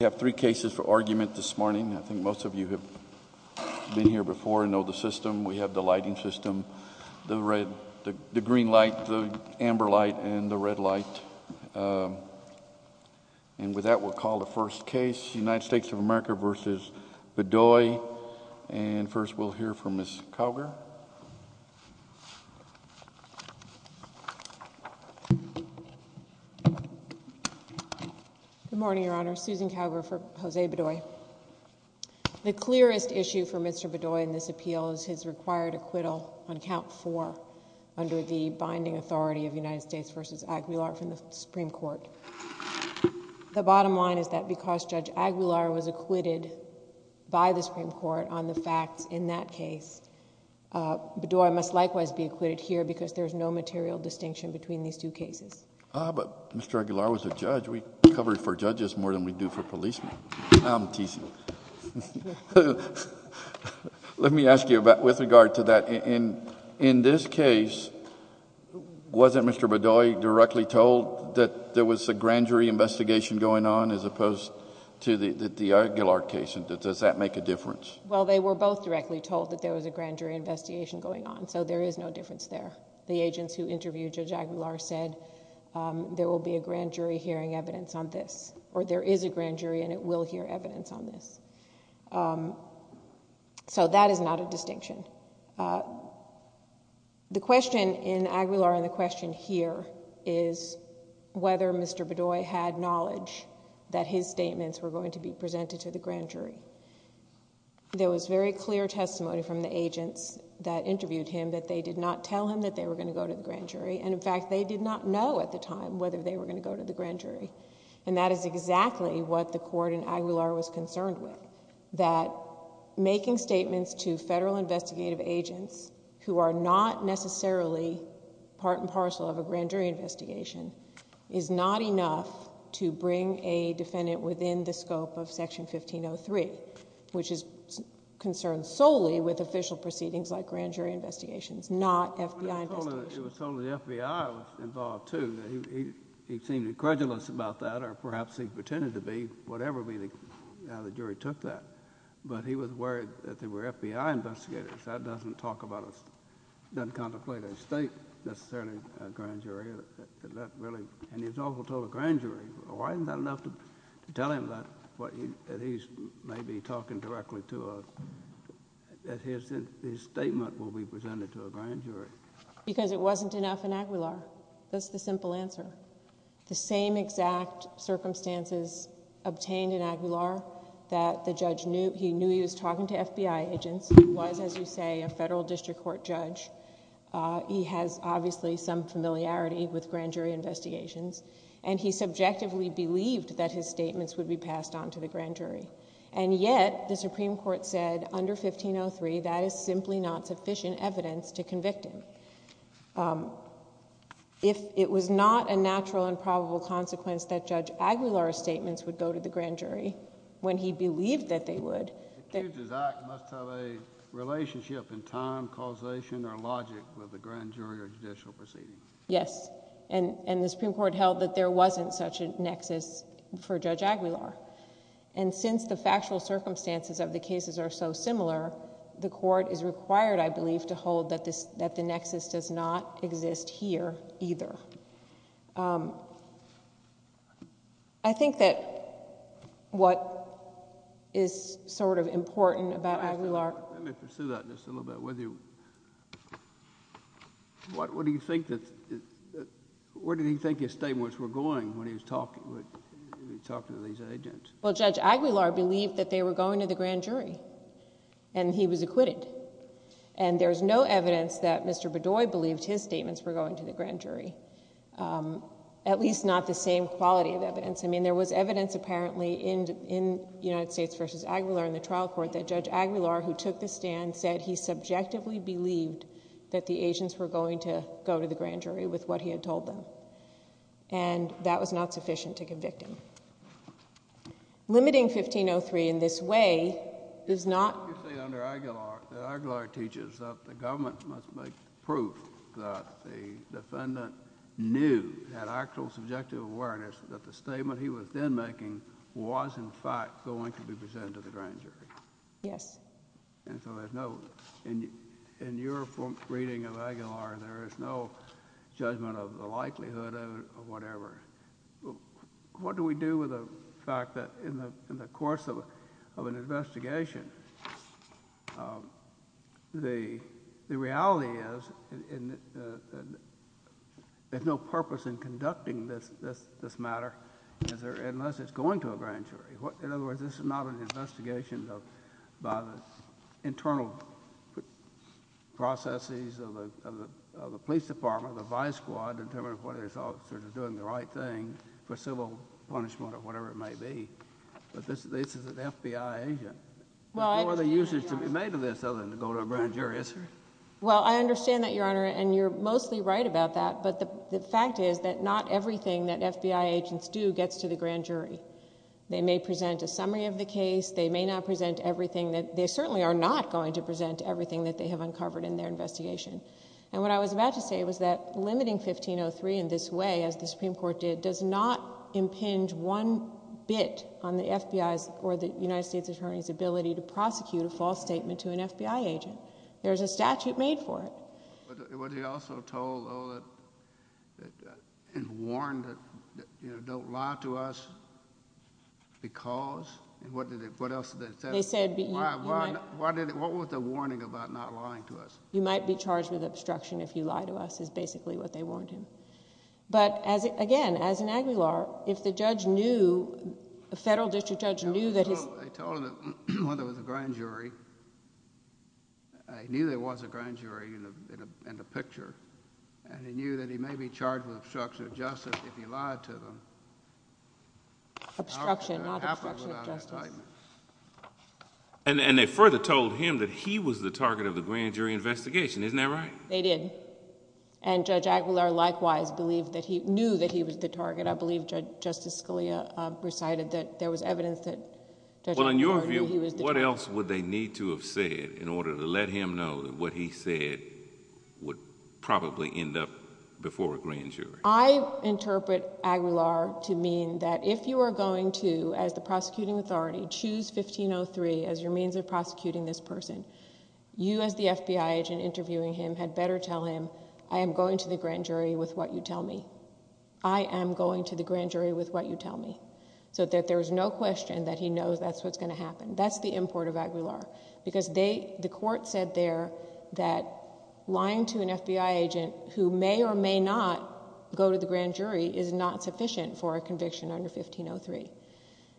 We have three cases for argument this morning. I think most of you have been here before and know the system. We have the lighting system, the green light, the amber light, and the red light. And with that, we'll call the first case, United States of America v. Bedoy. And first, we'll hear from Ms. Cowger. Good morning, Your Honor. Susan Cowger for Jose Bedoy. The clearest issue for Mr. Bedoy in this appeal is his required acquittal on count four under the binding authority of United States v. Aguilar from the Supreme Court. The bottom line is that because Judge Aguilar was acquitted by the Supreme Court on the facts in that case, Bedoy must likewise be acquitted here because there's no material distinction between these two cases. But Mr. Aguilar was a judge. We cover for judges more than we do for policemen. I'm teasing. Let me ask you with regard to that. In this case, wasn't Mr. Bedoy directly told that there was a grand jury investigation going on as opposed to the Aguilar case? Does that make a difference? Well, they were both directly told that there was a grand jury investigation going on, so there is no difference there. The agents who interviewed Judge Aguilar said there will be a grand jury hearing evidence on this, or there is a grand jury and it will hear evidence on this. So that is not a distinction. The question in Aguilar and the question here is whether Mr. Bedoy had knowledge that his statements were going to be presented to the grand jury. There was very clear testimony from the agents that interviewed him that they did not tell him that they were going to go to the grand jury, and in fact, they did not know at the time whether they were going to go to the grand jury. And that is exactly what the court in Aguilar was concerned with, that making statements to federal investigative agents who are not necessarily part and parcel of a grand jury investigation is not enough to bring a defendant within the scope of Section 1503, which is concerned solely with official proceedings like grand jury investigations, not FBI investigations. It was solely the FBI that was involved, too. He seemed incredulous about that, or perhaps he pretended to be, whatever the jury took that. But he was worried that they were FBI investigators. That does not talk about, does not contemplate a state necessarily grand jury. And he was also told a grand jury. Why is that not enough to tell him that he may be talking directly to a, that his statement will be presented to a grand jury? Because it wasn't enough in Aguilar. That's the simple answer. The same exact circumstances obtained in Aguilar that the judge knew, he knew he was talking to FBI agents, was, as you say, a federal district court judge. He has obviously some familiarity with grand jury investigations, and he subjectively believed that his statements would be passed on to the grand jury. And yet, the Supreme Court said under 1503, that is simply not sufficient evidence to convict him. If it was not a natural and probable consequence that Judge Aguilar's statements would go to the grand jury, when he believed that they would... Accused's act must have a relationship in time, causation, or logic with the grand jury or judicial proceedings. Yes, and the Supreme Court held that there wasn't such a nexus for Judge Aguilar. And since the factual circumstances of the cases are so similar, the court is required, I believe, to hold that the nexus does not exist here either. I think that what is sort of important about Aguilar... Well, Judge Aguilar believed that they were going to the grand jury, and he was acquitted. And there's no evidence that Mr. Bedoy believed his statements were going to the grand jury, at least not the same quality of evidence. I mean, there was evidence apparently in United States v. Aguilar in the trial court that Judge Aguilar, who took the stand, said he subjectively believed that the agents were going to go to the grand jury with what he had told them. And that was not sufficient to convict him. Limiting 1503 in this way is not... You say under Aguilar that Aguilar teaches that the government must make proof that the defendant knew, had actual subjective awareness, that the statement he was then making was in fact going to be presented to the grand jury. Yes. And so there's no... In your reading of Aguilar, there is no judgment of the likelihood of whatever. What do we do with the fact that in the course of an investigation, the reality is there's no purpose in conducting this matter unless it's going to a grand jury. In other words, this is not an investigation by the internal processes of the police department, the vice squad, determining whether they're doing the right thing for civil punishment or whatever it may be. But this is an FBI agent. Well, I... What are the uses to be made of this other than to go to a grand jury? Well, I understand that, Your Honor, and you're mostly right about that. But the fact is that not everything that FBI agents do gets to the grand jury. They may present a summary of the case. They may not present everything that... They certainly are not going to present everything that they have uncovered in their investigation. And what I was about to say was that limiting 1503 in this way, as the Supreme Court did, does not impinge one bit on the FBI's or the United States Attorney's ability to prosecute a false statement to an FBI agent. There's a statute made for it. But was he also told and warned that, you know, don't lie to us because... What else did they say? They said... What was the warning about not lying to us? You might be charged with obstruction if you lie to us is basically what they warned him. But, again, as an Aguilar, if the judge knew, the federal district judge knew that his... They told him that when there was a grand jury, he knew there was a grand jury in the picture. And he knew that he may be charged with obstruction of justice if he lied to them. Obstruction, not obstruction of justice. And they further told him that he was the target of the grand jury investigation. Isn't that right? They did. And Judge Aguilar, likewise, knew that he was the target. I believe Justice Scalia recited that there was evidence that Judge Aguilar knew he was the target. Well, in your view, what else would they need to have said in order to let him know that what he said would probably end up before a grand jury? I interpret Aguilar to mean that if you are going to, as the prosecuting authority, choose 1503 as your means of prosecuting this person, you as the FBI agent interviewing him had better tell him, I am going to the grand jury with what you tell me. I am going to the grand jury with what you tell me. So that there is no question that he knows that's what's going to happen. That's the import of Aguilar. Because the court said there that lying to an FBI agent who may or may not go to the grand jury is not sufficient for a conviction under 1503.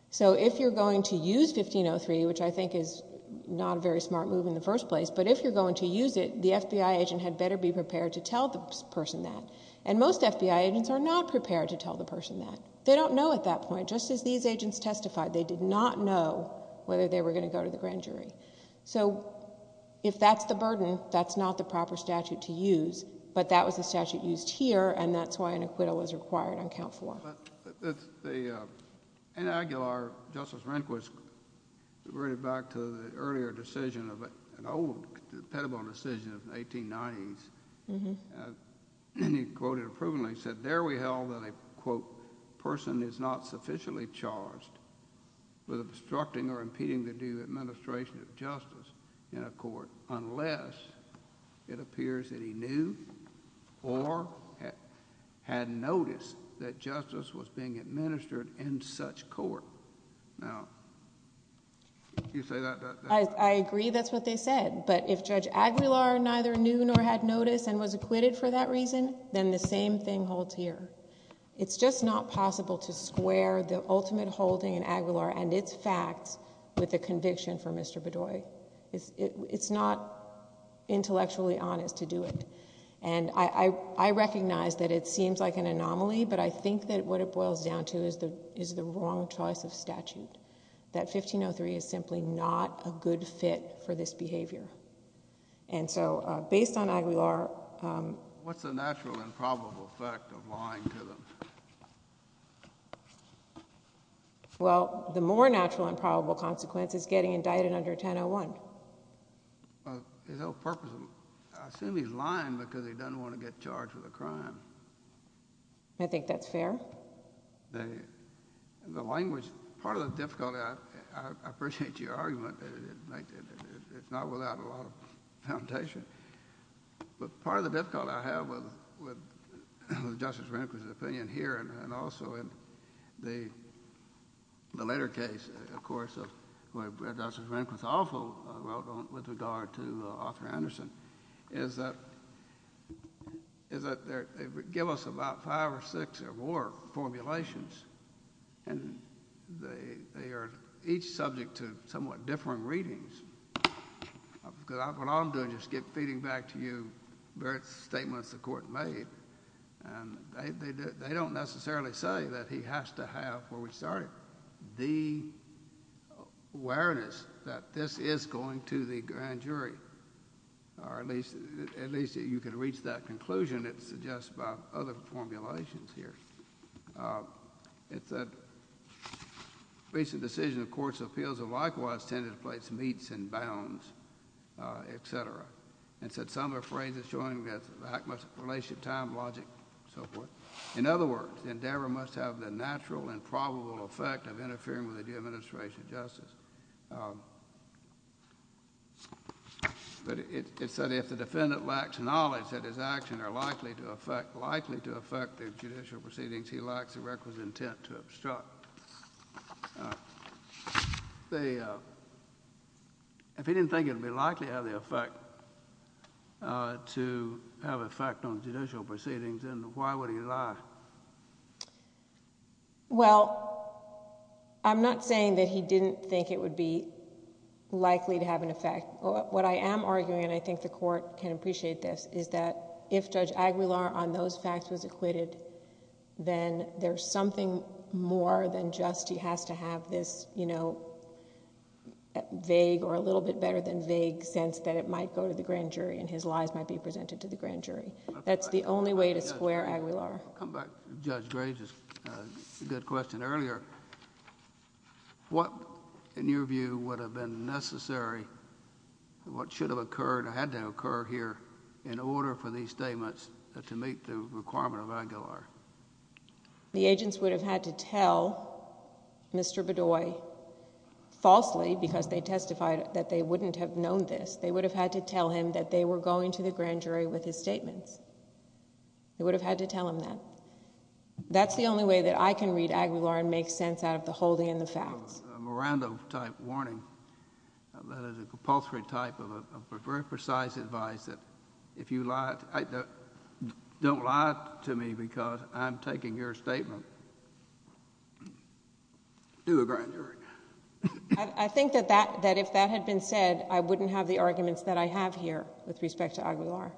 So if you're going to use 1503, which I think is not a very smart move in the first place, but if you're going to use it, the FBI agent had better be prepared to tell the person that. And most FBI agents are not prepared to tell the person that. They don't know at that point. Just as these agents testified, they did not know whether they were going to go to the grand jury. So if that's the burden, that's not the proper statute to use. But that was the statute used here, and that's why an acquittal was required on count four. In Aguilar, Justice Rehnquist reverted back to the earlier decision of an old, impenetrable decision of the 1890s, and he quoted it approvingly. He said there we held that a, quote, person is not sufficiently charged with obstructing or impeding the due administration of justice in a court unless it appears that he knew or had noticed that justice was being administered in such court. Now, you say that... I agree that's what they said, but if Judge Aguilar neither knew nor had noticed and was acquitted for that reason, then the same thing holds here. It's just not possible to square the ultimate holding in Aguilar and its facts with the conviction for Mr. Bedoy. It's not intellectually honest to do it. And I recognize that it seems like an anomaly, but I think that what it boils down to is the wrong choice of statute, that 1503 is simply not a good fit for this behavior. And so based on Aguilar... What's the natural and probable effect of lying to them? Well, the more natural and probable consequence is getting indicted under 1001. Well, his whole purpose... I assume he's lying because he doesn't want to get charged with a crime. I think that's fair. The language... part of the difficulty... I appreciate your argument. It's not without a lot of foundation. But part of the difficulty I have with Justice Rehnquist's opinion here and also in the later case, of course, where Justice Rehnquist's awful with regard to Arthur Anderson is that they give us about five or six or more formulations, and they are each subject to somewhat differing readings. Because what I'm doing is just feeding back to you various statements the Court made. And they don't necessarily say that he has to have, where we started, the awareness that this is going to the grand jury. Or at least you can reach that conclusion. It's just about other formulations here. It said, Recent decisions of courts' appeals have likewise tended to place meets and bounds, etc. It said, Some are phrases showing that the act must have relationship, time, logic, and so forth. In other words, the endeavor must have the natural and probable effect of interfering with the due administration of justice. But it said, If the defendant lacks knowledge that his actions are likely to affect the judicial proceedings, he lacks the requisite intent to obstruct. If he didn't think it would be likely to have an effect on judicial proceedings, then why would he lie? Well, I'm not saying that he didn't think it would be likely to have an effect. What I am arguing, and I think the Court can appreciate this, is that if Judge Aguilar on those facts was acquitted, then there's something more than just he has to have this, you know, vague or a little bit better than vague sense that it might go to the grand jury and his lies might be presented to the grand jury. That's the only way to square Aguilar. I'll come back to Judge Gray's good question earlier. What, in your view, would have been necessary, what should have occurred or had to have occurred here in order for these statements to meet the requirement of Aguilar? The agents would have had to tell Mr. Bedoy falsely because they testified that they wouldn't have known this. They would have had to tell him that they were going to the grand jury with his statements. They would have had to tell him that. That's the only way that I can read Aguilar and make sense out of the holding and the facts. A Miranda-type warning, a compulsory type of a very precise advice that if you lie, don't lie to me because I'm taking your statement. Do a grand jury. I think that if that had been said, I wouldn't have the arguments that I have here with respect to Aguilar.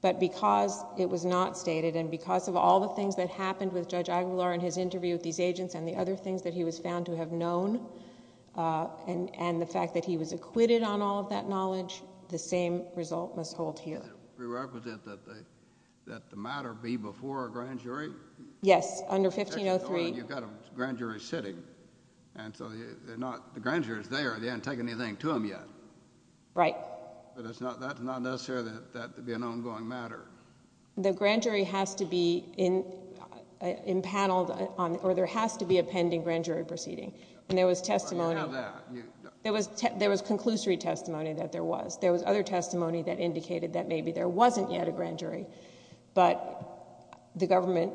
But because it was not stated and because of all the things that happened with Judge Aguilar in his interview with these agents and the other things that he was found to have known and the fact that he was acquitted on all of that knowledge, the same result must hold here. Does that pre-requisite that the matter be before a grand jury? Yes, under 1503... You've got a grand jury sitting. The grand jury is there. They haven't taken anything to them yet. Right. But that's not necessary that that be an ongoing matter. The grand jury has to be impaneled or there has to be a pending grand jury proceeding. And there was testimony... Well, you have that. There was conclusory testimony that there was. There was other testimony that indicated that maybe there wasn't yet a grand jury, but the government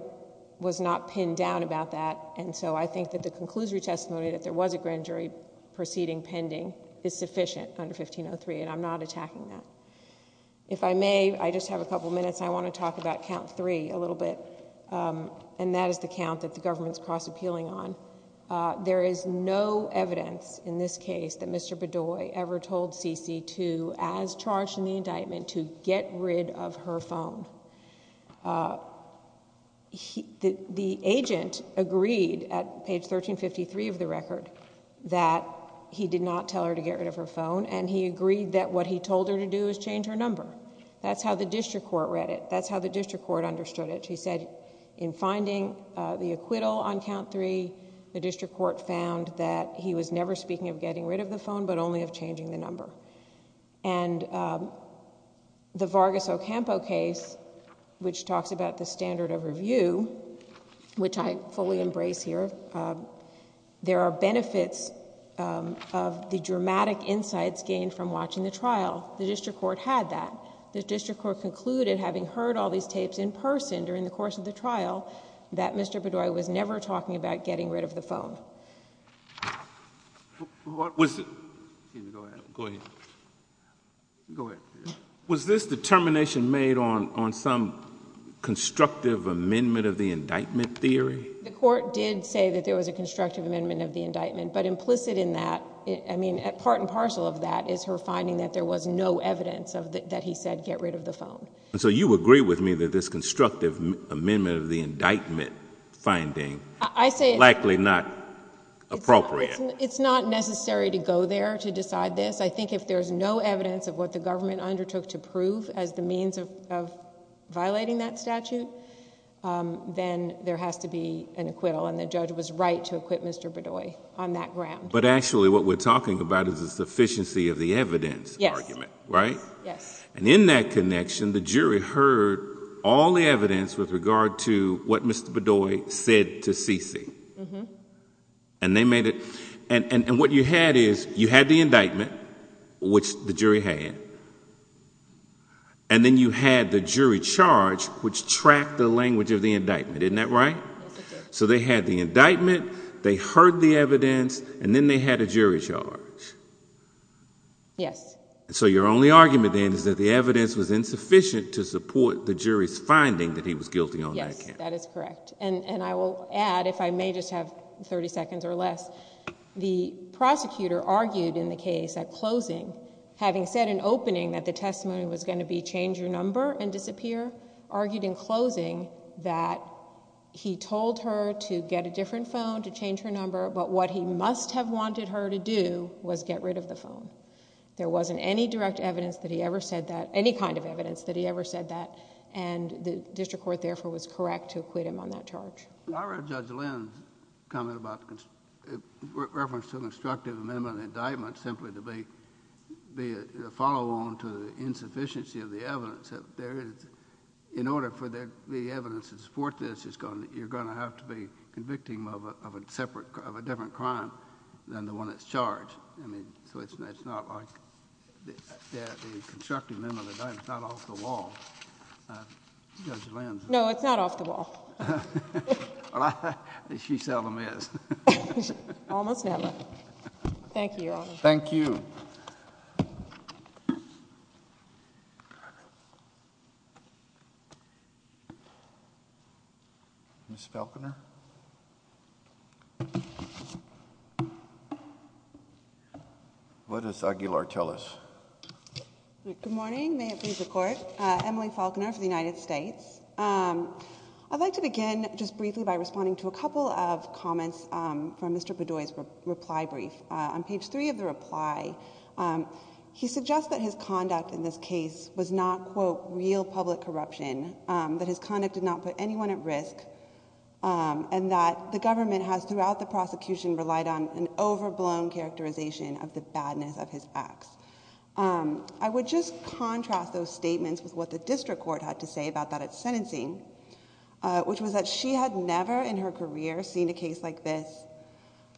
was not pinned down about that. And so I think that the conclusory testimony that there was a grand jury proceeding pending is sufficient under 1503, and I'm not attacking that. If I may, I just have a couple minutes. I want to talk about count three a little bit, and that is the count that the government is cross-appealing on. There is no evidence in this case that Mr. Bedoy ever told Cece to, as charged in the indictment, to get rid of her phone. The agent agreed at page 1353 of the record that he did not tell her to get rid of her phone, and he agreed that what he told her to do is change her number. That's how the district court read it. That's how the district court understood it. In finding the acquittal on count three, the district court found that he was never speaking of getting rid of the phone, but only of changing the number. The Vargas Ocampo case, which talks about the standard of review, which I fully embrace here, there are benefits of the dramatic insights gained from watching the trial. The district court had that. The district court concluded, having heard all these tapes in person during the course of the trial, that Mr. Bedoy was never talking about getting rid of the phone. Was this determination made on some constructive amendment of the indictment theory? The court did say that there was a constructive amendment of the indictment, but implicit in that... You agree with me that this constructive amendment of the indictment finding is likely not appropriate? It's not necessary to go there to decide this. I think if there's no evidence of what the government undertook to prove as the means of violating that statute, then there has to be an acquittal, and the judge was right to acquit Mr. Bedoy on that ground. Actually, what we're talking about is the sufficiency of the evidence argument, right? Yes. In that connection, the jury heard all the evidence with regard to what Mr. Bedoy said to Cece, and they made it... What you had is, you had the indictment, which the jury had, and then you had the jury charge, which tracked the language of the indictment. Isn't that right? Yes, it did. They had the indictment, they heard the evidence, and then they had a jury charge. Yes. So, your only argument then is that the evidence was insufficient to support the jury's finding that he was guilty on that case. Yes, that is correct. And I will add, if I may just have 30 seconds or less, the prosecutor argued in the case at closing, having said in opening that the testimony was going to be change your number and disappear, argued in closing that he told her to get a different phone, to change her number, but what he must have wanted her to do was get rid of the phone. There wasn't any direct evidence that he ever said that, any kind of evidence that he ever said that, and the district court, therefore, was correct to acquit him on that charge. I read Judge Lynn's comment about reference to an instructive amendment indictment simply to be a follow-on to the insufficiency of the evidence. In order for there to be evidence to support this, you're going to have to be convicting him of a different crime than the one that's charged. I mean, so it's not like the instructive amendment indictment is not off the wall. Judge Lynn. No, it's not off the wall. Well, she seldom is. Almost never. Thank you, Your Honor. Thank you. Ms. Falconer. What does Aguilar tell us? Good morning. May it please the Court. Emily Falconer for the United States. I'd like to begin just briefly by responding to a couple of comments from Mr. Bedoy's reply brief. On page three of the reply, he suggests that his conduct in this case was not, quote, real public corruption, that his conduct did not put anyone at risk, and that the government has, throughout the prosecution, relied on an overblown characterization of the badness of his acts. I would just contrast those statements with what the district court had to say about that at sentencing, which was that she had never in her career seen a case like this,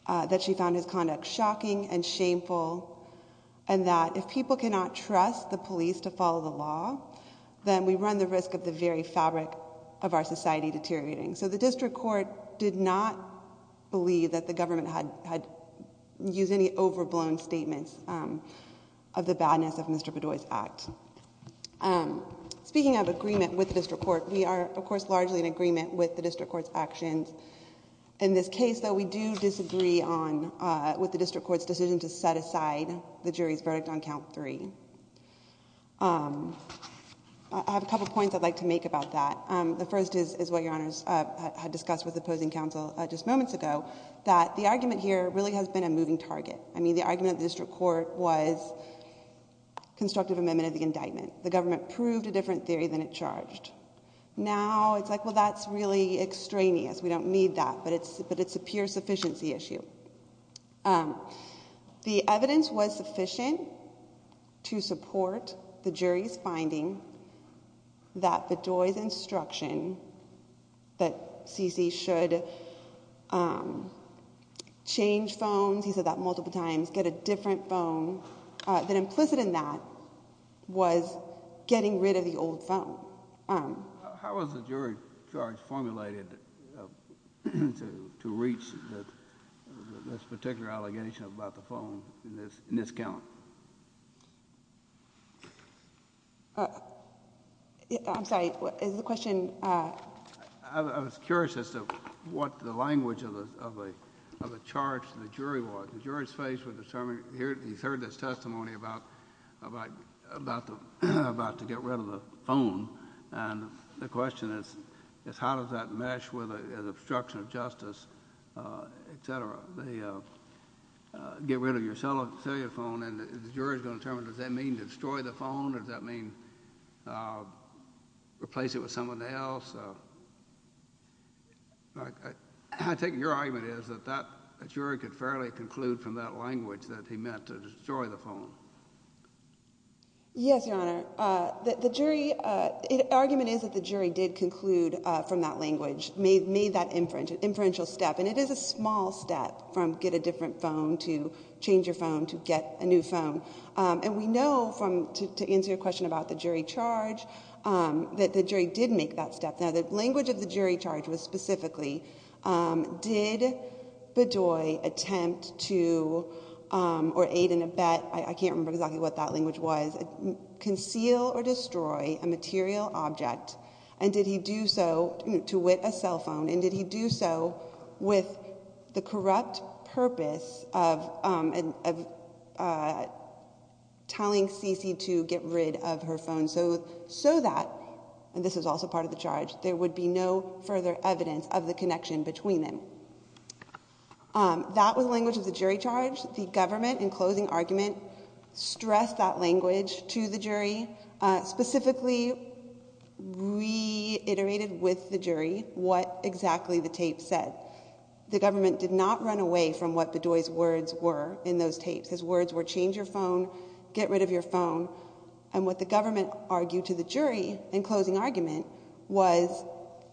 that she found his conduct shocking and shameful, and that if people cannot trust the police to follow the law, then we run the risk of the very fabric of our society deteriorating. So the district court did not believe that the government had used any overblown statements of the badness of Mr. Bedoy's act. Speaking of agreement with the district court, we are, of course, largely in agreement with the district court's actions. In this case, though, we do disagree with the district court's decision to set aside the jury's verdict on count three. I have a couple of points I'd like to make about that. The first is what Your Honors had discussed with opposing counsel just moments ago, that the argument here really has been a moving target. I mean, the argument of the district court was constructive amendment of the indictment. The government proved a different theory than it charged. Now it's like, well, that's really extraneous. We don't need that, but it's a pure sufficiency issue. The evidence was sufficient to support the jury's finding that Bedoy's instruction that C.C. should change phones, he said that multiple times, get a different phone, that implicit in that was getting rid of the old phone. How was the jury charge formulated to reach this particular allegation about the phone in this count? I'm sorry, is the question? I was curious as to what the language of the charge to the jury was. The jury's face was determined, he's heard this testimony about to get rid of the phone, and the question is how does that mesh with an obstruction of justice, etc., the get rid of your cellular phone, and the jury's going to determine, does that mean destroy the phone, does that mean replace it with someone else? I take it your argument is that the jury could fairly conclude from that language that he meant to destroy the phone. Yes, Your Honor. The argument is that the jury did conclude from that language, made that inferential step, and it is a small step from get a different phone to change your phone to get a new phone. And we know, to answer your question about the jury charge, that the jury did make that step. Now the language of the jury charge was specifically, did Bedoy attempt to, or aid and abet, I can't remember exactly what that language was, conceal or destroy a material object, and did he do so to wit a cell phone, and did he do so with the corrupt purpose of telling Cece to get rid of her phone, so that, and this is also part of the charge, there would be no further evidence of the connection between them. That was the language of the jury charge. The government, in closing argument, stressed that language to the jury, specifically reiterated with the jury what exactly the tape said. The government did not run away from what Bedoy's words were in those tapes. His words were change your phone, get rid of your phone, and what the government argued to the jury, in closing argument, was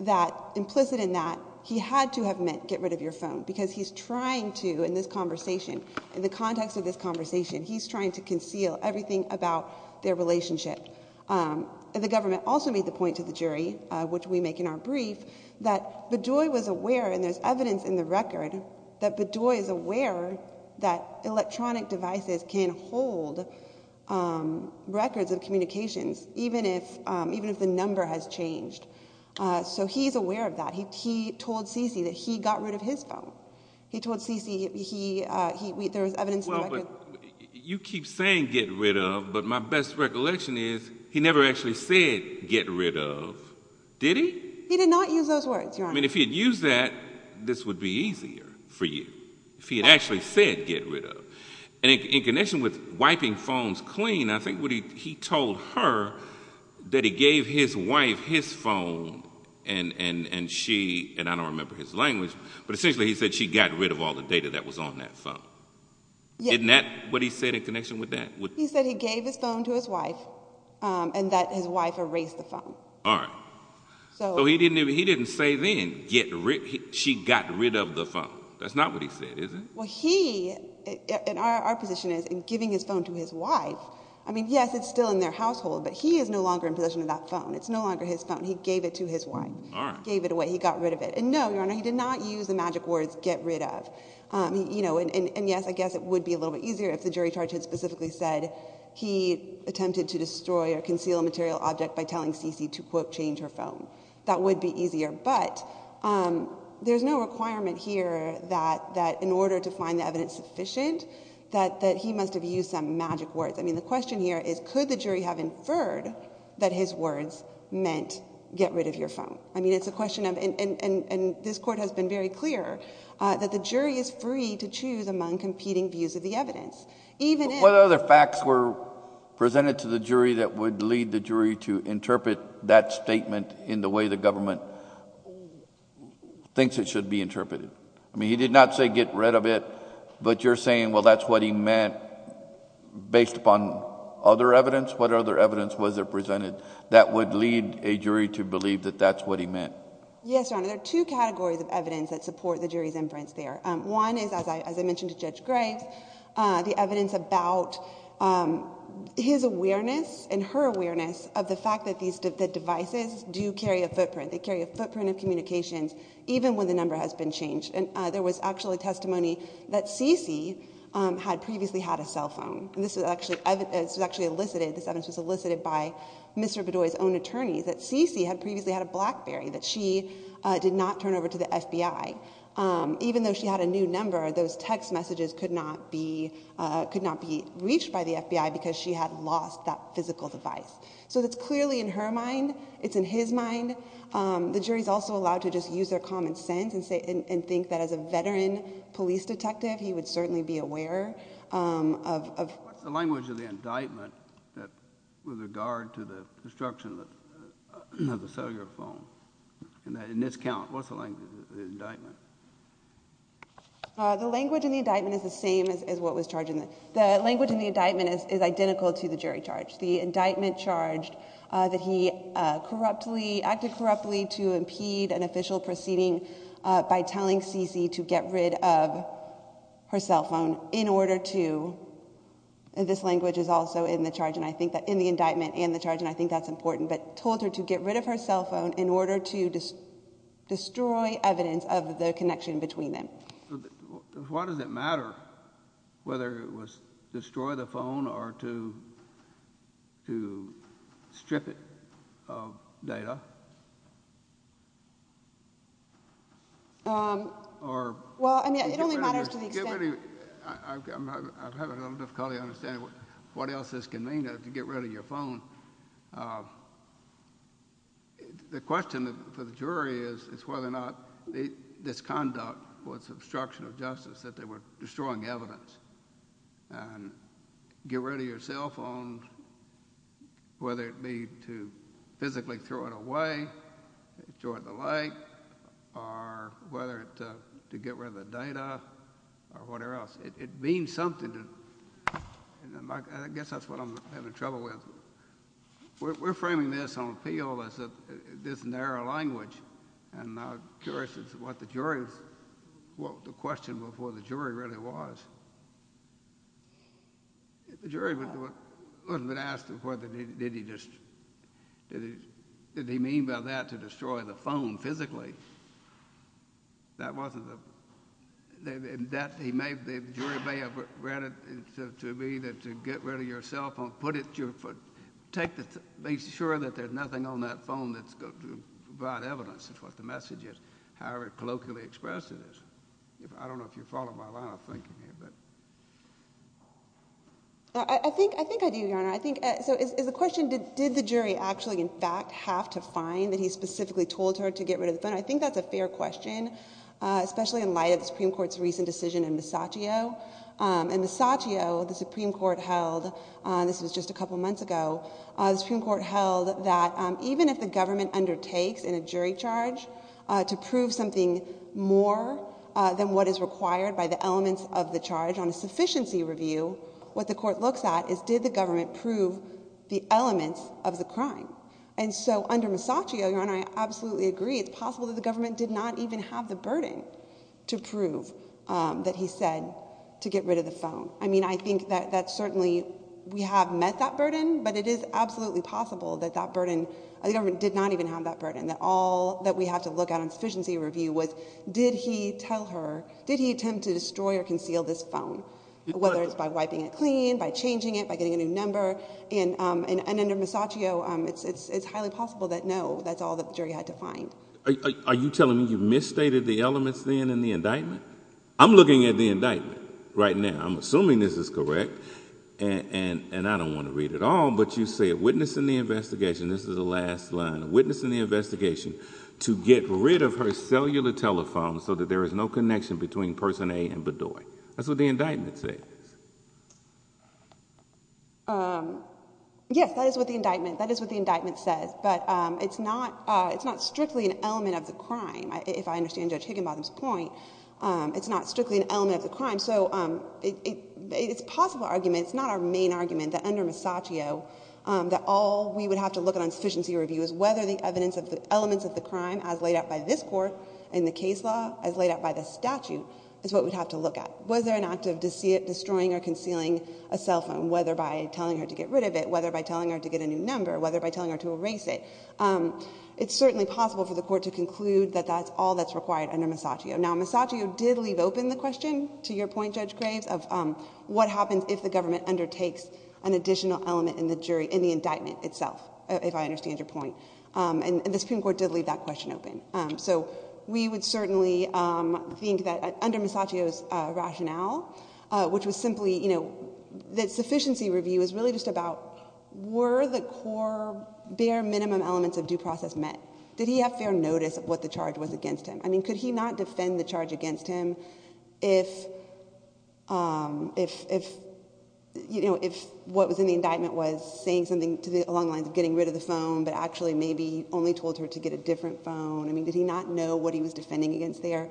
that, implicit in that, he had to have meant get rid of your phone, because he's trying to, in this conversation, in the context of this conversation, he's trying to conceal everything about their relationship. The government also made the point to the jury, which we make in our brief, that Bedoy was aware, and there's evidence in the record, that Bedoy is aware that electronic devices can hold records of communications, even if the number has changed. So he's aware of that. He told Cece that he got rid of his phone. He told Cece, there was evidence in the record. Well, but you keep saying get rid of, but my best recollection is, he never actually said get rid of, did he? I mean, if he had used that, this would be easier for you, if he had actually said get rid of. In connection with wiping phones clean, I think he told her that he gave his wife his phone, and she, and I don't remember his language, but essentially he said she got rid of all the data that was on that phone. Isn't that what he said in connection with that? He said he gave his phone to his wife, and that his wife erased the phone. All right. So he didn't say then, she got rid of the phone. That's not what he said, is it? Well, he, and our position is, in giving his phone to his wife, I mean, yes, it's still in their household, but he is no longer in possession of that phone. It's no longer his phone. He gave it to his wife. Gave it away. He got rid of it. And no, Your Honor, he did not use the magic words get rid of. And yes, I guess it would be a little bit easier if the jury charge had specifically said he attempted to destroy or conceal a material object by telling Cece to, quote, change her phone. That would be easier. But there's no requirement here that in order to find the evidence sufficient, that he must have used some magic words. I mean, the question here is, could the jury have inferred that his words meant get rid of your phone? I mean, it's a question of, and this Court has been very clear, that the jury is free to choose among competing views of the evidence. What other facts were presented to the jury that would lead the jury to interpret that statement in the way the government thinks it should be interpreted? I mean, he did not say get rid of it, but you're saying, well, that's what he meant based upon other evidence? What other evidence was there presented that would lead a jury to believe that that's what he meant? Yes, Your Honor, there are two categories of evidence that support the jury's inference there. One is, as I mentioned to Judge Graves, the evidence about his awareness and her awareness of the fact that the devices do carry a footprint. They carry a footprint of communications, even when the number has been changed. And there was actually testimony that Cece had previously had a cell phone. This was actually elicited, this evidence was elicited by Mr. Bedoy's own attorneys, that Cece had previously had a BlackBerry that she did not turn over to the FBI. Even though she had a new number, those text messages could not be reached by the FBI because she had lost that physical device. So it's clearly in her mind, it's in his mind. The jury's also allowed to just use their common sense and think that as a veteran police detective, he would certainly be aware of... What's the language of the indictment with regard to the destruction of the cellular phone? In this count, what's the language of the indictment? The language in the indictment is the same as what was charged in it. The language in the indictment is identical to the jury charge. The indictment charged that he acted corruptly to impede an official proceeding by telling Cece to get rid of her cell phone in order to... This language is also in the indictment and the charge, and I think that's important.... but told her to get rid of her cell phone in order to destroy evidence of the connection between them. Why does it matter whether it was to destroy the phone or to strip it of data? Well, I mean, it only matters to the extent... I'm having a little difficulty understanding what else this can mean to get rid of your phone. The question for the jury is whether or not this conduct was obstruction of justice, that they were destroying evidence. Get rid of your cell phone, whether it be to physically throw it away, throw it in the lake, or whether it's to get rid of the data or whatever else. It means something to... I guess that's what I'm having trouble with. We're framing this on appeal as this narrow language, and I'm curious as to what the jury... the question before the jury really was. The jury wasn't asked what did he just... did he mean by that to destroy the phone physically? That wasn't the... the jury may have read it to me that to get rid of your cell phone, put it... make sure that there's nothing on that phone that's going to provide evidence of what the message is, however colloquially expressed it is. I don't know if you follow my line of thinking here, but... I think I do, Your Honor. I think... so is the question did the jury actually in fact have to find that he specifically told her to get rid of the phone? I think that's a fair question, especially in light of the Supreme Court's recent decision in Masaccio. In Masaccio, the Supreme Court held... this was just a couple of months ago... The Supreme Court held that even if the government undertakes in a jury charge to prove something more than what is required by the elements of the charge on a sufficiency review... what the court looks at is did the government prove the elements of the crime? And so under Masaccio, Your Honor, I absolutely agree. It's possible that the government did not even have the burden to prove that he said to get rid of the phone. I mean, I think that certainly we have met that burden, but it is absolutely possible that that burden... the government did not even have that burden. That all that we have to look at on sufficiency review was did he tell her... did he attempt to destroy or conceal this phone? Whether it's by wiping it clean, by changing it, by getting a new number. And under Masaccio, it's highly possible that no, that's all that the jury had to find. Are you telling me you misstated the elements then in the indictment? I'm looking at the indictment right now. I'm assuming this is correct. And I don't want to read it all, but you said witness in the investigation. This is the last line. Witness in the investigation to get rid of her cellular telephone so that there is no connection between person A and Bedoy. That's what the indictment says. Yes, that is what the indictment says. But it's not strictly an element of the crime, if I understand Judge Higginbottom's point. It's not strictly an element of the crime. So it's a possible argument. It's not our main argument that under Masaccio that all we would have to look at on sufficiency review is whether the evidence of the elements of the crime as laid out by this Court in the case law, as laid out by the statute, is what we'd have to look at. Was there an act of destroying or concealing a cell phone, whether by telling her to get rid of it, whether by telling her to get a new number, whether by telling her to erase it? It's certainly possible for the Court to conclude that that's all that's required under Masaccio. Now, Masaccio did leave open the question, to your point, Judge Graves, of what happens if the government undertakes an additional element in the jury, in the indictment itself, if I understand your point. And the Supreme Court did leave that question open. So we would certainly think that under Masaccio's rationale, which was simply that sufficiency review is really just about were the core, bare minimum elements of due process met? Did he have fair notice of what the charge was against him? I mean, could he not defend the charge against him if, you know, if what was in the indictment was saying something along the lines of getting rid of the phone, but actually maybe only told her to get a different phone? I mean, did he not know what he was defending against there?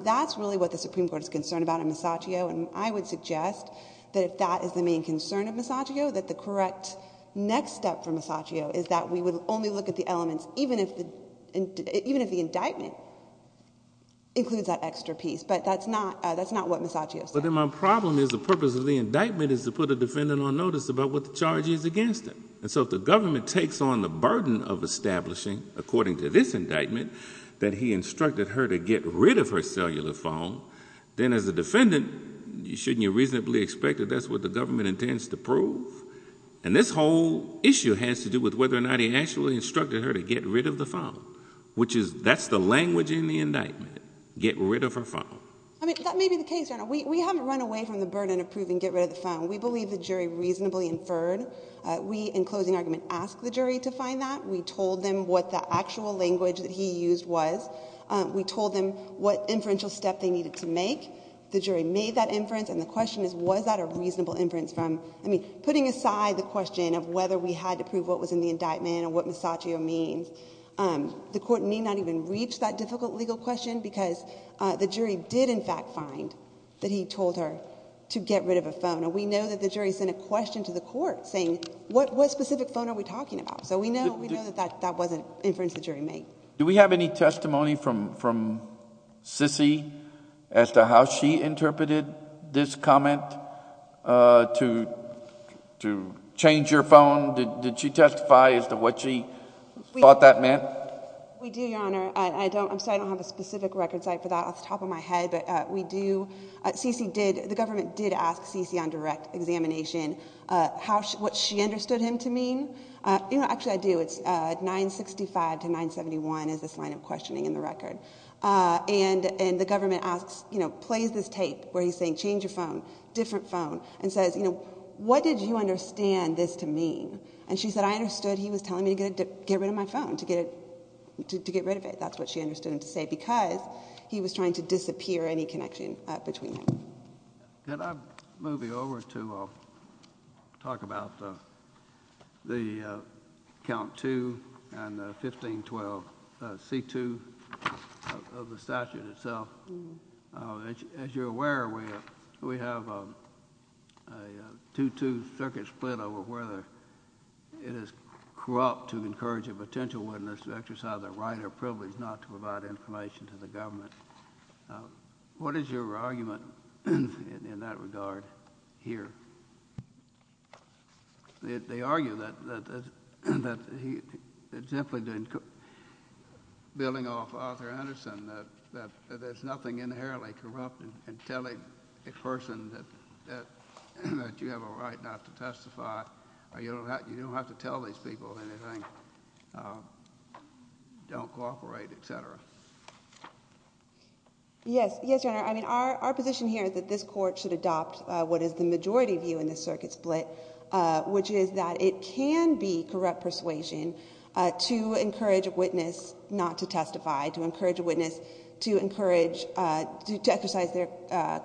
That's really what the Supreme Court is concerned about in Masaccio, and I would suggest that if that is the main concern of Masaccio, that the correct next step for Masaccio is that we would only look at the elements, even if the indictment includes that extra piece. But that's not what Masaccio said. But then my problem is the purpose of the indictment is to put a defendant on notice about what the charge is against him. And so if the government takes on the burden of establishing, according to this indictment, that he instructed her to get rid of her cellular phone, then as a defendant, shouldn't you reasonably expect that that's what the government intends to prove? And this whole issue has to do with whether or not he actually instructed her to get rid of the phone, which is that's the language in the indictment, get rid of her phone. I mean, that may be the case, Your Honor. We haven't run away from the burden of proving get rid of the phone. We believe the jury reasonably inferred. We, in closing argument, asked the jury to find that. We told them what the actual language that he used was. We told them what inferential step they needed to make. The jury made that inference, and the question is was that a reasonable inference from, I mean, putting aside the question of whether we had to prove what was in the indictment or what misogyny means, the court may not even reach that difficult legal question because the jury did, in fact, find that he told her to get rid of a phone. And we know that the jury sent a question to the court saying, what specific phone are we talking about? So we know that that wasn't inference the jury made. Do we have any testimony from C.C. as to how she interpreted this comment to change your phone? Did she testify as to what she thought that meant? We do, Your Honor. I'm sorry I don't have a specific record site for that off the top of my head, but we do. C.C. did, the government did ask C.C. on direct examination what she understood him to mean. You know, actually I do. It's 965 to 971 is this line of questioning in the record. And the government asks, you know, plays this tape where he's saying change your phone, different phone, and says, you know, what did you understand this to mean? And she said, I understood he was telling me to get rid of my phone, to get rid of it. That's what she understood him to say because he was trying to disappear any connection between them. Can I move you over to talk about the count two and the 1512 C.2 of the statute itself? As you're aware, we have a 2-2 circuit split over whether it is corrupt to encourage a potential witness to exercise their right or privilege not to provide information to the government. What is your argument in that regard here? They argue that simply building off Arthur Anderson that there's nothing inherently corrupt in telling a person that you have a right not to testify or you don't have to tell these people anything, don't cooperate, etc. Yes, Your Honor. I mean, our position here is that this court should adopt what is the majority view in this circuit split, which is that it can be corrupt persuasion to encourage a witness not to testify, to encourage a witness to exercise their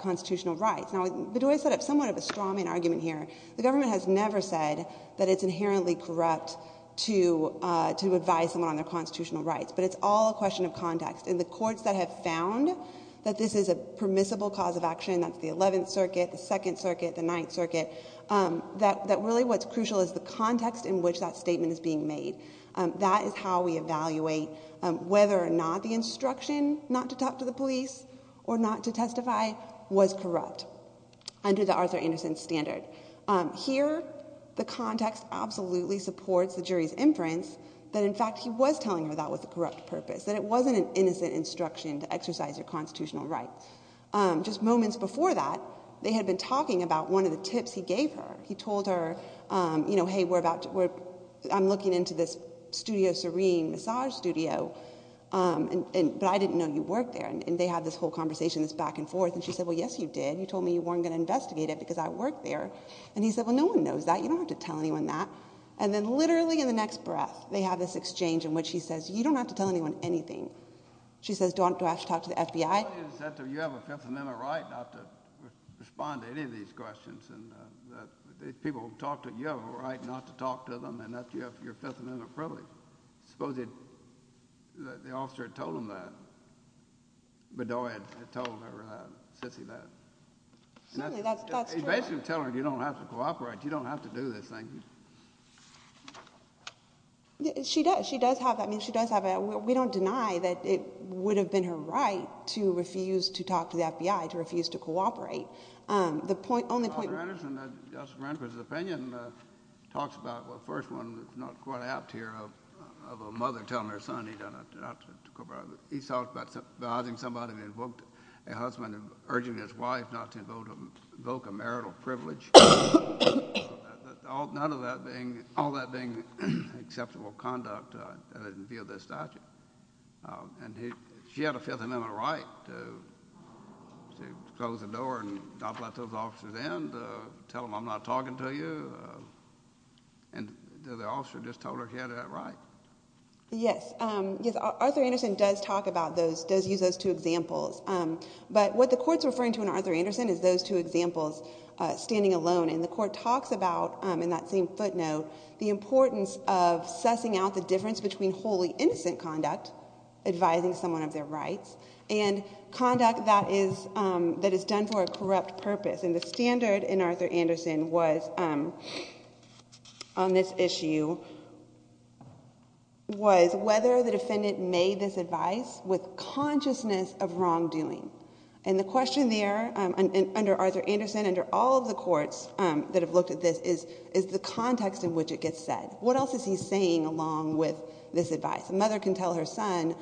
constitutional rights. Now, Bedoya set up somewhat of a strawman argument here. The government has never said that it's inherently corrupt to advise someone on their constitutional rights. But it's all a question of context. And the courts that have found that this is a permissible cause of action, that's the 11th Circuit, the 2nd Circuit, the 9th Circuit, that really what's crucial is the context in which that statement is being made. That is how we evaluate whether or not the instruction not to talk to the police or not to testify was corrupt under the Arthur Anderson standard. Here, the context absolutely supports the jury's inference that, in fact, he was telling her that was a corrupt purpose, that it wasn't an innocent instruction to exercise your constitutional rights. Just moments before that, they had been talking about one of the tips he gave her. He told her, you know, hey, I'm looking into this Studio Serene massage studio, but I didn't know you worked there. And they had this whole conversation, this back and forth. And she said, well, yes, you did. You told me you weren't going to investigate it because I worked there. And he said, well, no one knows that. You don't have to tell anyone that. And then literally in the next breath, they have this exchange in which he says, you don't have to tell anyone anything. She says, do I have to talk to the FBI? You have a Fifth Amendment right not to respond to any of these questions. People have talked to you. You have a right not to talk to them. And you have your Fifth Amendment privilege. I suppose the officer had told him that. Bedoy had told her sissy that. Certainly, that's true. He's basically telling her, you don't have to cooperate. You don't have to do this thing. She does. She does have that. I mean, she does have that. We don't deny that it would have been her right to refuse to talk to the FBI, to refuse to cooperate. The point, only point. Justice Randolph's opinion talks about the first one, not quite apt here, of a mother telling her son not to cooperate. He talks about somebody who invoked a husband and urging his wife not to invoke a marital privilege. All that being acceptable conduct that is in view of this statute. And she had a Fifth Amendment right to close the door and not let those officers in, to tell them I'm not talking to you. And the officer just told her she had that right. Yes. Arthur Anderson does talk about those, does use those two examples. But what the court's referring to in Arthur Anderson is those two examples, standing alone. And the court talks about, in that same footnote, the importance of sussing out the difference between wholly innocent conduct, advising someone of their rights, and conduct that is done for a corrupt purpose. And the standard in Arthur Anderson was, on this issue, was whether the defendant made this advice with consciousness of wrongdoing. And the question there, under Arthur Anderson, under all of the courts that have looked at this, is the context in which it gets said. What else is he saying along with this advice? A mother can tell her son,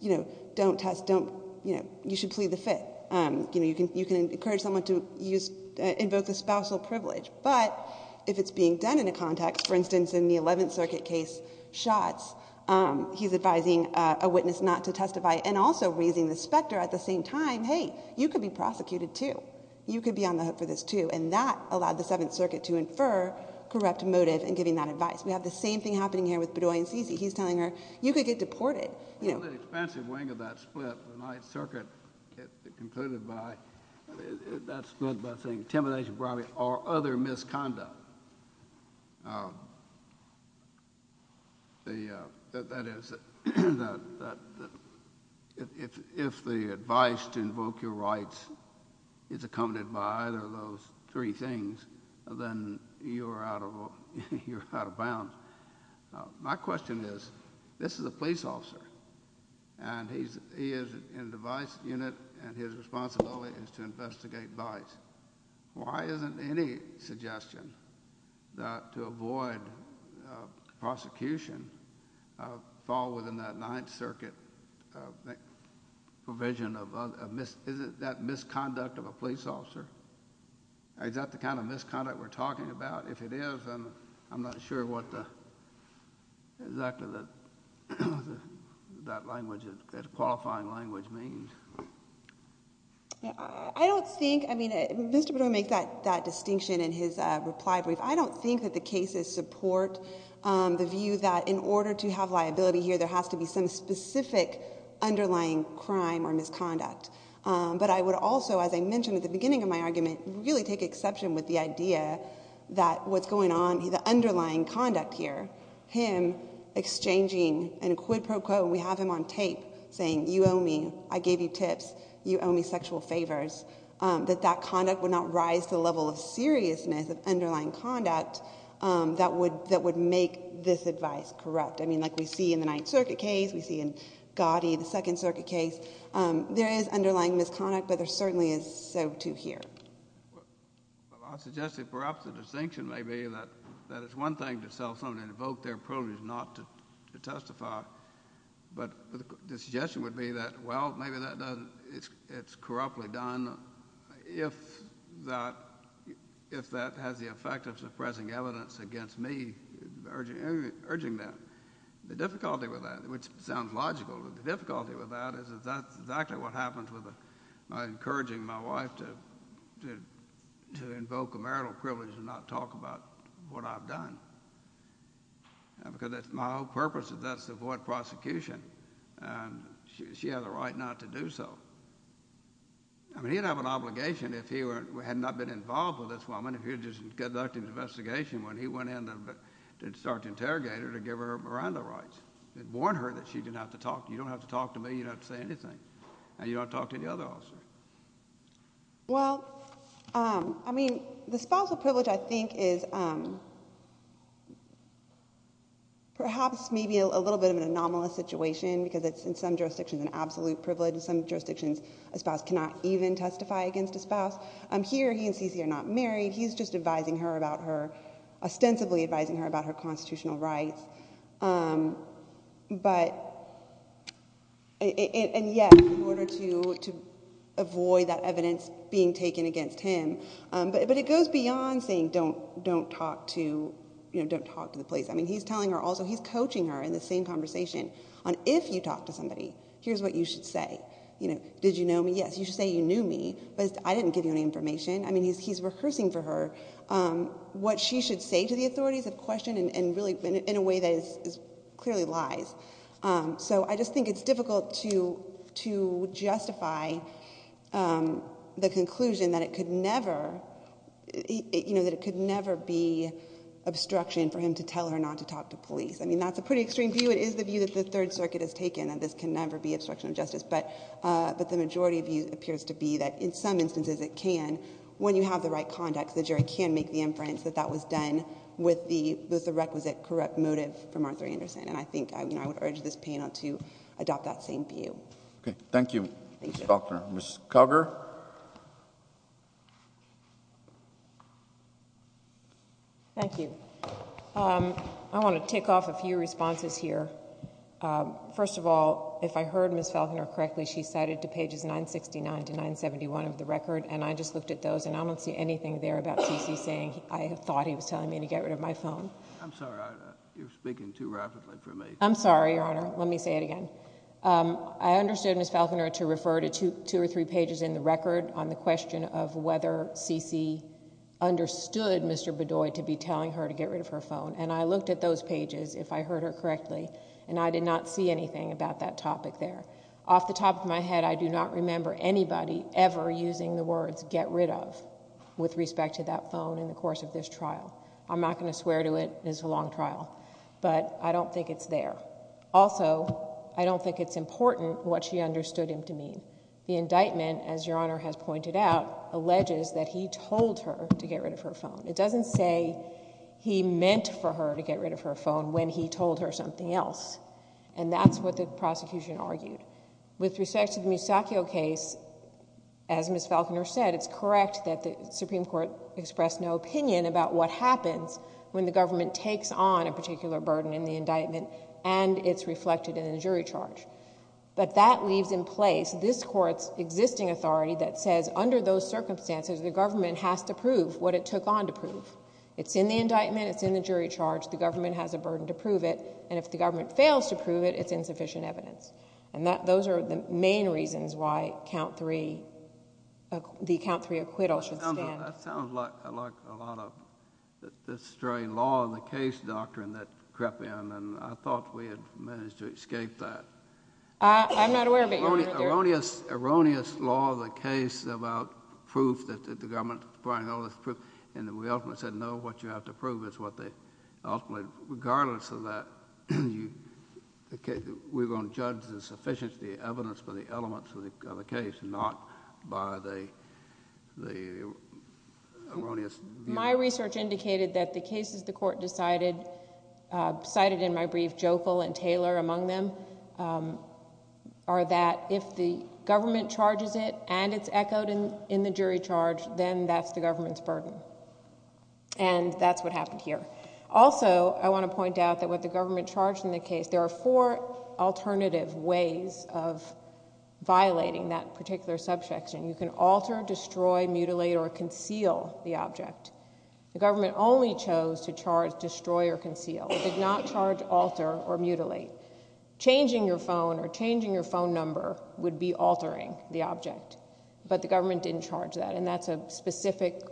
you know, don't test, don't, you know, you should plead the Fifth. You know, you can encourage someone to use, invoke the spousal privilege. But if it's being done in a context, for instance, in the Eleventh Circuit case shots, he's advising a witness not to testify, and also raising the specter at the same time, hey, you could be prosecuted, too. You could be on the hook for this, too. And that allowed the Seventh Circuit to infer corrupt motive in giving that advice. We have the same thing happening here with Bedoy and Cici. He's telling her, you could get deported. On the expansive wing of that split, the Ninth Circuit concluded that split by saying intimidation, bribing, or other misconduct. If the advice to invoke your rights is accompanied by either of those three things, then you're out of bounds. My question is, this is a police officer, and he is in the vice unit, and his responsibility is to investigate vice. Why isn't any suggestion to avoid prosecution fall within that Ninth Circuit provision of that misconduct of a police officer? Is that the kind of misconduct we're talking about? If it is, I'm not sure what exactly that qualifying language means. I don't think, I mean, Mr. Bedoy made that distinction in his reply brief. I don't think that the cases support the view that in order to have liability here, there has to be some specific underlying crime or misconduct. But I would also, as I mentioned at the beginning of my argument, really take exception with the idea that what's going on, the underlying conduct here, him exchanging in a quid pro quo, we have him on tape saying, you owe me, I gave you tips, you owe me sexual favors, that that conduct would not rise to the level of seriousness of underlying conduct that would make this advice corrupt. I mean, like we see in the Ninth Circuit case, we see in Gotti, the Second Circuit case, there is underlying misconduct, but there certainly is so, too, here. Well, I suggest that perhaps the distinction may be that it's one thing to sell something and invoke their privilege not to testify, but the suggestion would be that, well, maybe that doesn't, it's corruptly done, and if that has the effect of suppressing evidence against me urging that, the difficulty with that, which sounds logical, but the difficulty with that is that that's exactly what happens with my encouraging my wife to invoke a marital privilege and not talk about what I've done, because that's my whole purpose is that's to avoid prosecution, and she has a right not to do so. I mean, he'd have an obligation if he had not been involved with this woman, if he had just conducted an investigation when he went in to start to interrogate her to give her Miranda rights. It would warn her that she didn't have to talk, you don't have to talk to me, you don't have to say anything, and you don't have to talk to any other officer. Well, I mean, the spousal privilege, I think, is perhaps maybe a little bit of an anomalous situation, because in some jurisdictions it's an absolute privilege, in some jurisdictions a spouse cannot even testify against a spouse. Here, he and Cece are not married, he's just advising her about her, ostensibly advising her about her constitutional rights, and yet, in order to avoid that evidence being taken against him, but it goes beyond saying don't talk to the police. I mean, he's coaching her in the same conversation on if you talk to somebody, here's what you should say. Did you know me? Yes, you should say you knew me, but I didn't give you any information. I mean, he's rehearsing for her what she should say to the authorities of question in a way that clearly lies. So I just think it's difficult to justify the conclusion that it could never be obstruction for him to tell her not to talk to police. I mean, that's a pretty extreme view, it is the view that the Third Circuit has taken, that this can never be obstruction of justice, but the majority view appears to be that in some instances it can, when you have the right context, the jury can make the inference that that was done with the requisite correct motive from Arthur Anderson. And I think I would urge this panel to adopt that same view. Thank you, Ms. Falconer. Ms. Koger? Thank you. I want to tick off a few responses here. First of all, if I heard Ms. Falconer correctly, she cited to pages 969 to 971 of the record, and I just looked at those and I don't see anything there about C.C. saying, I thought he was telling me to get rid of my phone. I'm sorry, you're speaking too rapidly for me. I'm sorry, Your Honor. Let me say it again. I understood Ms. Falconer to refer to two or three pages in the record on the question of whether C.C. understood Mr. Bedoy to be telling her to get rid of her phone, and I looked at those pages, if I heard her correctly, and I did not see anything about that topic there. Off the top of my head, I do not remember anybody ever using the words get rid of with respect to that phone in the course of this trial. I'm not going to swear to it. It's a long trial. But I don't think it's there. Also, I don't think it's important what she understood him to mean. The indictment, as Your Honor has pointed out, alleges that he told her to get rid of her phone. It doesn't say he meant for her to get rid of her phone when he told her something else, and that's what the prosecution argued. With respect to the Musacchio case, as Ms. Falconer said, it's correct that the Supreme Court expressed no opinion about what happens when the government takes on a particular burden in the indictment and it's reflected in the jury charge. But that leaves in place this Court's existing authority that says under those circumstances, the government has to prove what it took on to prove. It's in the indictment. It's in the jury charge. The government has a burden to prove it, and if the government fails to prove it, it's insufficient evidence. And those are the main reasons why the count three acquittal should stand. That sounds like a lot of the strange law of the case doctrine that crept in, and I thought we had managed to escape that. It's an erroneous law of the case about proof that the government is requiring all this proof, and we ultimately said, no, what you have to prove is what they ultimately—regardless of that, we're going to judge the sufficiency of the evidence for the elements of the case, not by the erroneous— My research indicated that the cases the Court decided, cited in my brief, Jopel and Taylor among them, are that if the government charges it and it's echoed in the jury charge, then that's the government's burden. And that's what happened here. Also, I want to point out that with the government charged in the case, there are four alternative ways of violating that particular subsection. You can alter, destroy, mutilate, or conceal the object. The government only chose to charge destroy or conceal. It did not charge alter or mutilate. Changing your phone or changing your phone number would be altering the object, but the government didn't charge that, and that's a specific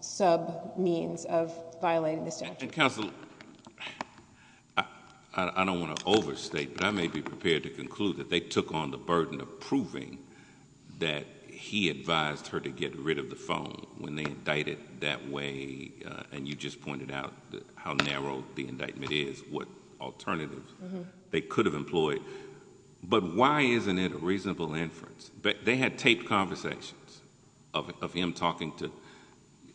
sub means of violating the statute. Counsel, I don't want to overstate, but I may be prepared to conclude that they took on the burden of proving that he advised her to get rid of the phone when they indicted that way, and you just pointed out how narrow the indictment is, what alternatives they could have employed. But why isn't it a reasonable inference? They had taped conversations of him talking to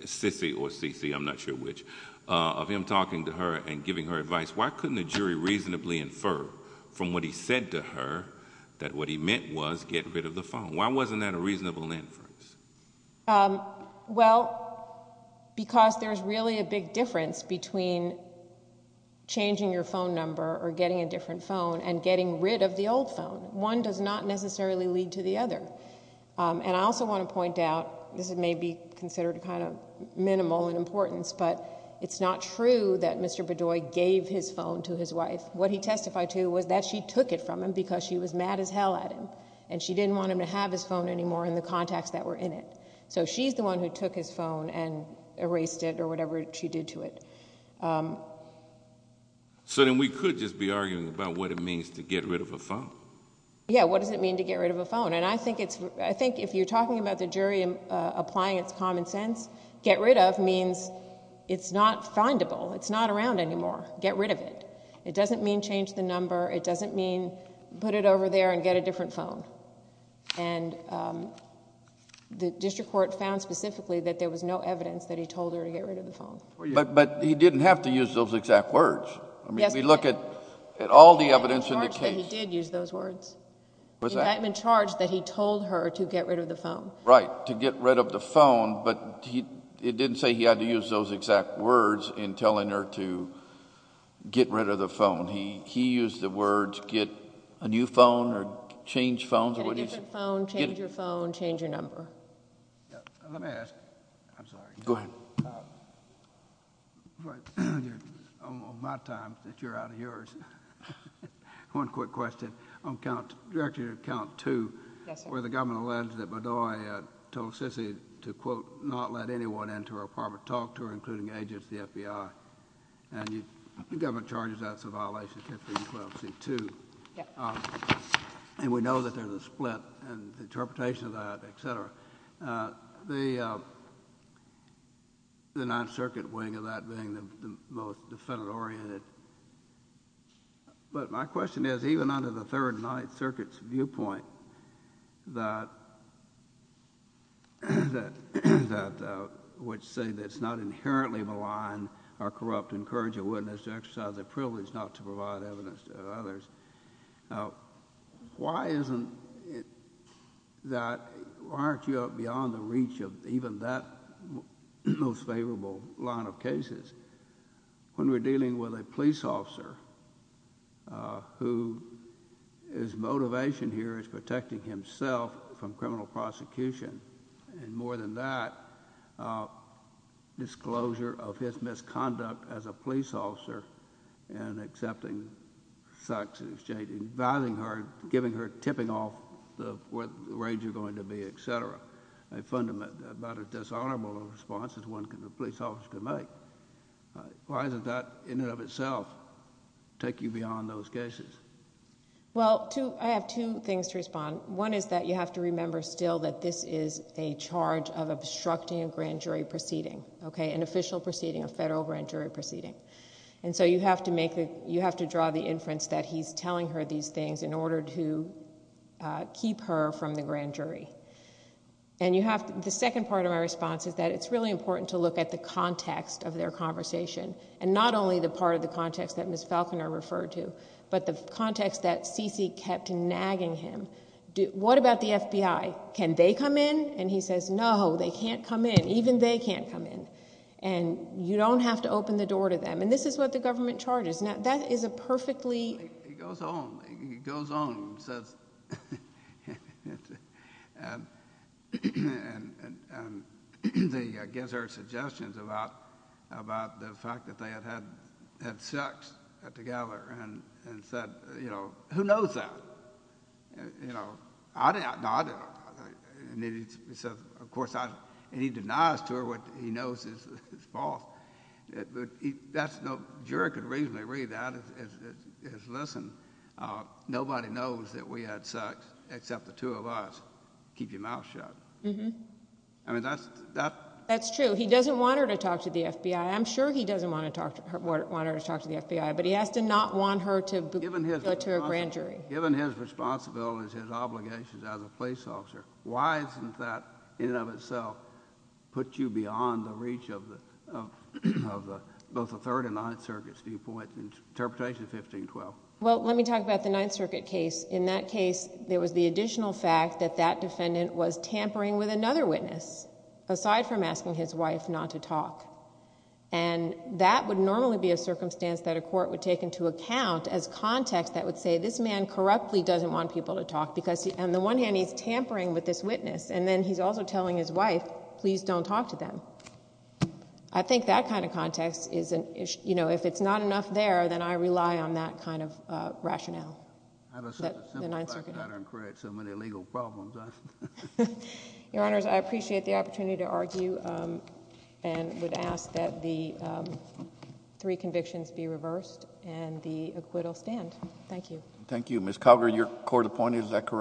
Sissy or Cece, I'm not sure which, of him talking to her and giving her advice. Why couldn't the jury reasonably infer from what he said to her that what he meant was get rid of the phone? Why wasn't that a reasonable inference? Well, because there's really a big difference between changing your phone number or getting a different phone and getting rid of the old phone. One does not necessarily lead to the other. And I also want to point out, this may be considered kind of minimal in importance, but it's not true that Mr. Bedoy gave his phone to his wife. What he testified to was that she took it from him because she was mad as hell at him, and she didn't want him to have his phone anymore and the contacts that were in it. So she's the one who took his phone and erased it or whatever she did to it. So then we could just be arguing about what it means to get rid of a phone. Yeah, what does it mean to get rid of a phone? And I think if you're talking about the jury applying its common sense, get rid of means it's not findable, it's not around anymore, get rid of it. It doesn't mean change the number. It doesn't mean put it over there and get a different phone. And the district court found specifically that there was no evidence that he told her to get rid of the phone. But he didn't have to use those exact words. I mean, if we look at all the evidence in the case... The indictment charged that he did use those words. What's that? The indictment charged that he told her to get rid of the phone. Right, to get rid of the phone, but it didn't say he had to use those exact words in telling her to get rid of the phone. He used the words get a new phone or change phones or whatever. Get a different phone, change your phone, change your number. Let me ask... I'm sorry. Go ahead. On my time that you're out of yours, one quick question. I'm a county director at Count Two. Yes, sir. Where the government alleged that Bedoy told Sissy to, quote, not let anyone into her apartment, talk to her, including agents at the FBI. And the government charges that's a violation of 1512C2. Yep. And we know that there's a split and the interpretation of that, et cetera. The Ninth Circuit wing of that being the most defendant-oriented. But my question is, even under the Third and Ninth Circuit's viewpoint, which say that it's not inherently maligned or corrupt to encourage a witness to exercise their privilege not to provide evidence to others, why aren't you up beyond the reach of even that most favorable line of cases? When we're dealing with a police officer, who his motivation here is protecting himself from criminal prosecution, and more than that, disclosure of his misconduct as a police officer and accepting sex in exchange, inviting her, giving her, tipping off where the raids are going to be, et cetera, a fundamental or dishonorable response that a police officer can make. Why doesn't that, in and of itself, take you beyond those cases? Well, I have two things to respond. One is that you have to remember still that this is a charge of obstructing a grand jury proceeding, an official proceeding, a federal grand jury proceeding. And so you have to draw the inference that he's telling her these things in order to keep her from the grand jury. And the second part of my response is that it's really important to look at the context of their conversation, and not only the part of the context that Ms. Falconer referred to, but the context that C.C. kept nagging him. What about the FBI? Can they come in? And he says, no, they can't come in. Even they can't come in. And you don't have to open the door to them. And this is what the government charges. That is a perfectly... He goes on. He goes on and says... And he gives her suggestions about the fact that they had sex together and said, you know, who knows that? You know, I didn't... And he says, of course, I... And he denies to her what he knows is false. That's no... A juror could reasonably read that. It's lessened. Nobody knows that we had sex except the two of us. Keep your mouth shut. I mean, that's... That's true. He doesn't want her to talk to the FBI. I'm sure he doesn't want her to talk to the FBI, but he has to not want her to go to a grand jury. Given his responsibilities, his obligations as a police officer, why isn't that, in and of itself, put you beyond the reach of both the Third and Ninth Circuit's viewpoint? Interpretation 1512. Well, let me talk about the Ninth Circuit case. In that case, there was the additional fact that that defendant was tampering with another witness, aside from asking his wife not to talk. And that would normally be a circumstance that a court would take into account as context that would say this man corruptly doesn't want people to talk because... This man, he's tampering with this witness, and then he's also telling his wife, please don't talk to them. I think that kind of context is an issue. You know, if it's not enough there, then I rely on that kind of rationale. The Ninth Circuit. How does such a simplified pattern create so many legal problems? Your Honors, I appreciate the opportunity to argue and would ask that the three convictions be reversed and the acquittal stand. Thank you. Thank you. Ms. Calgary, your court appointee, is that correct?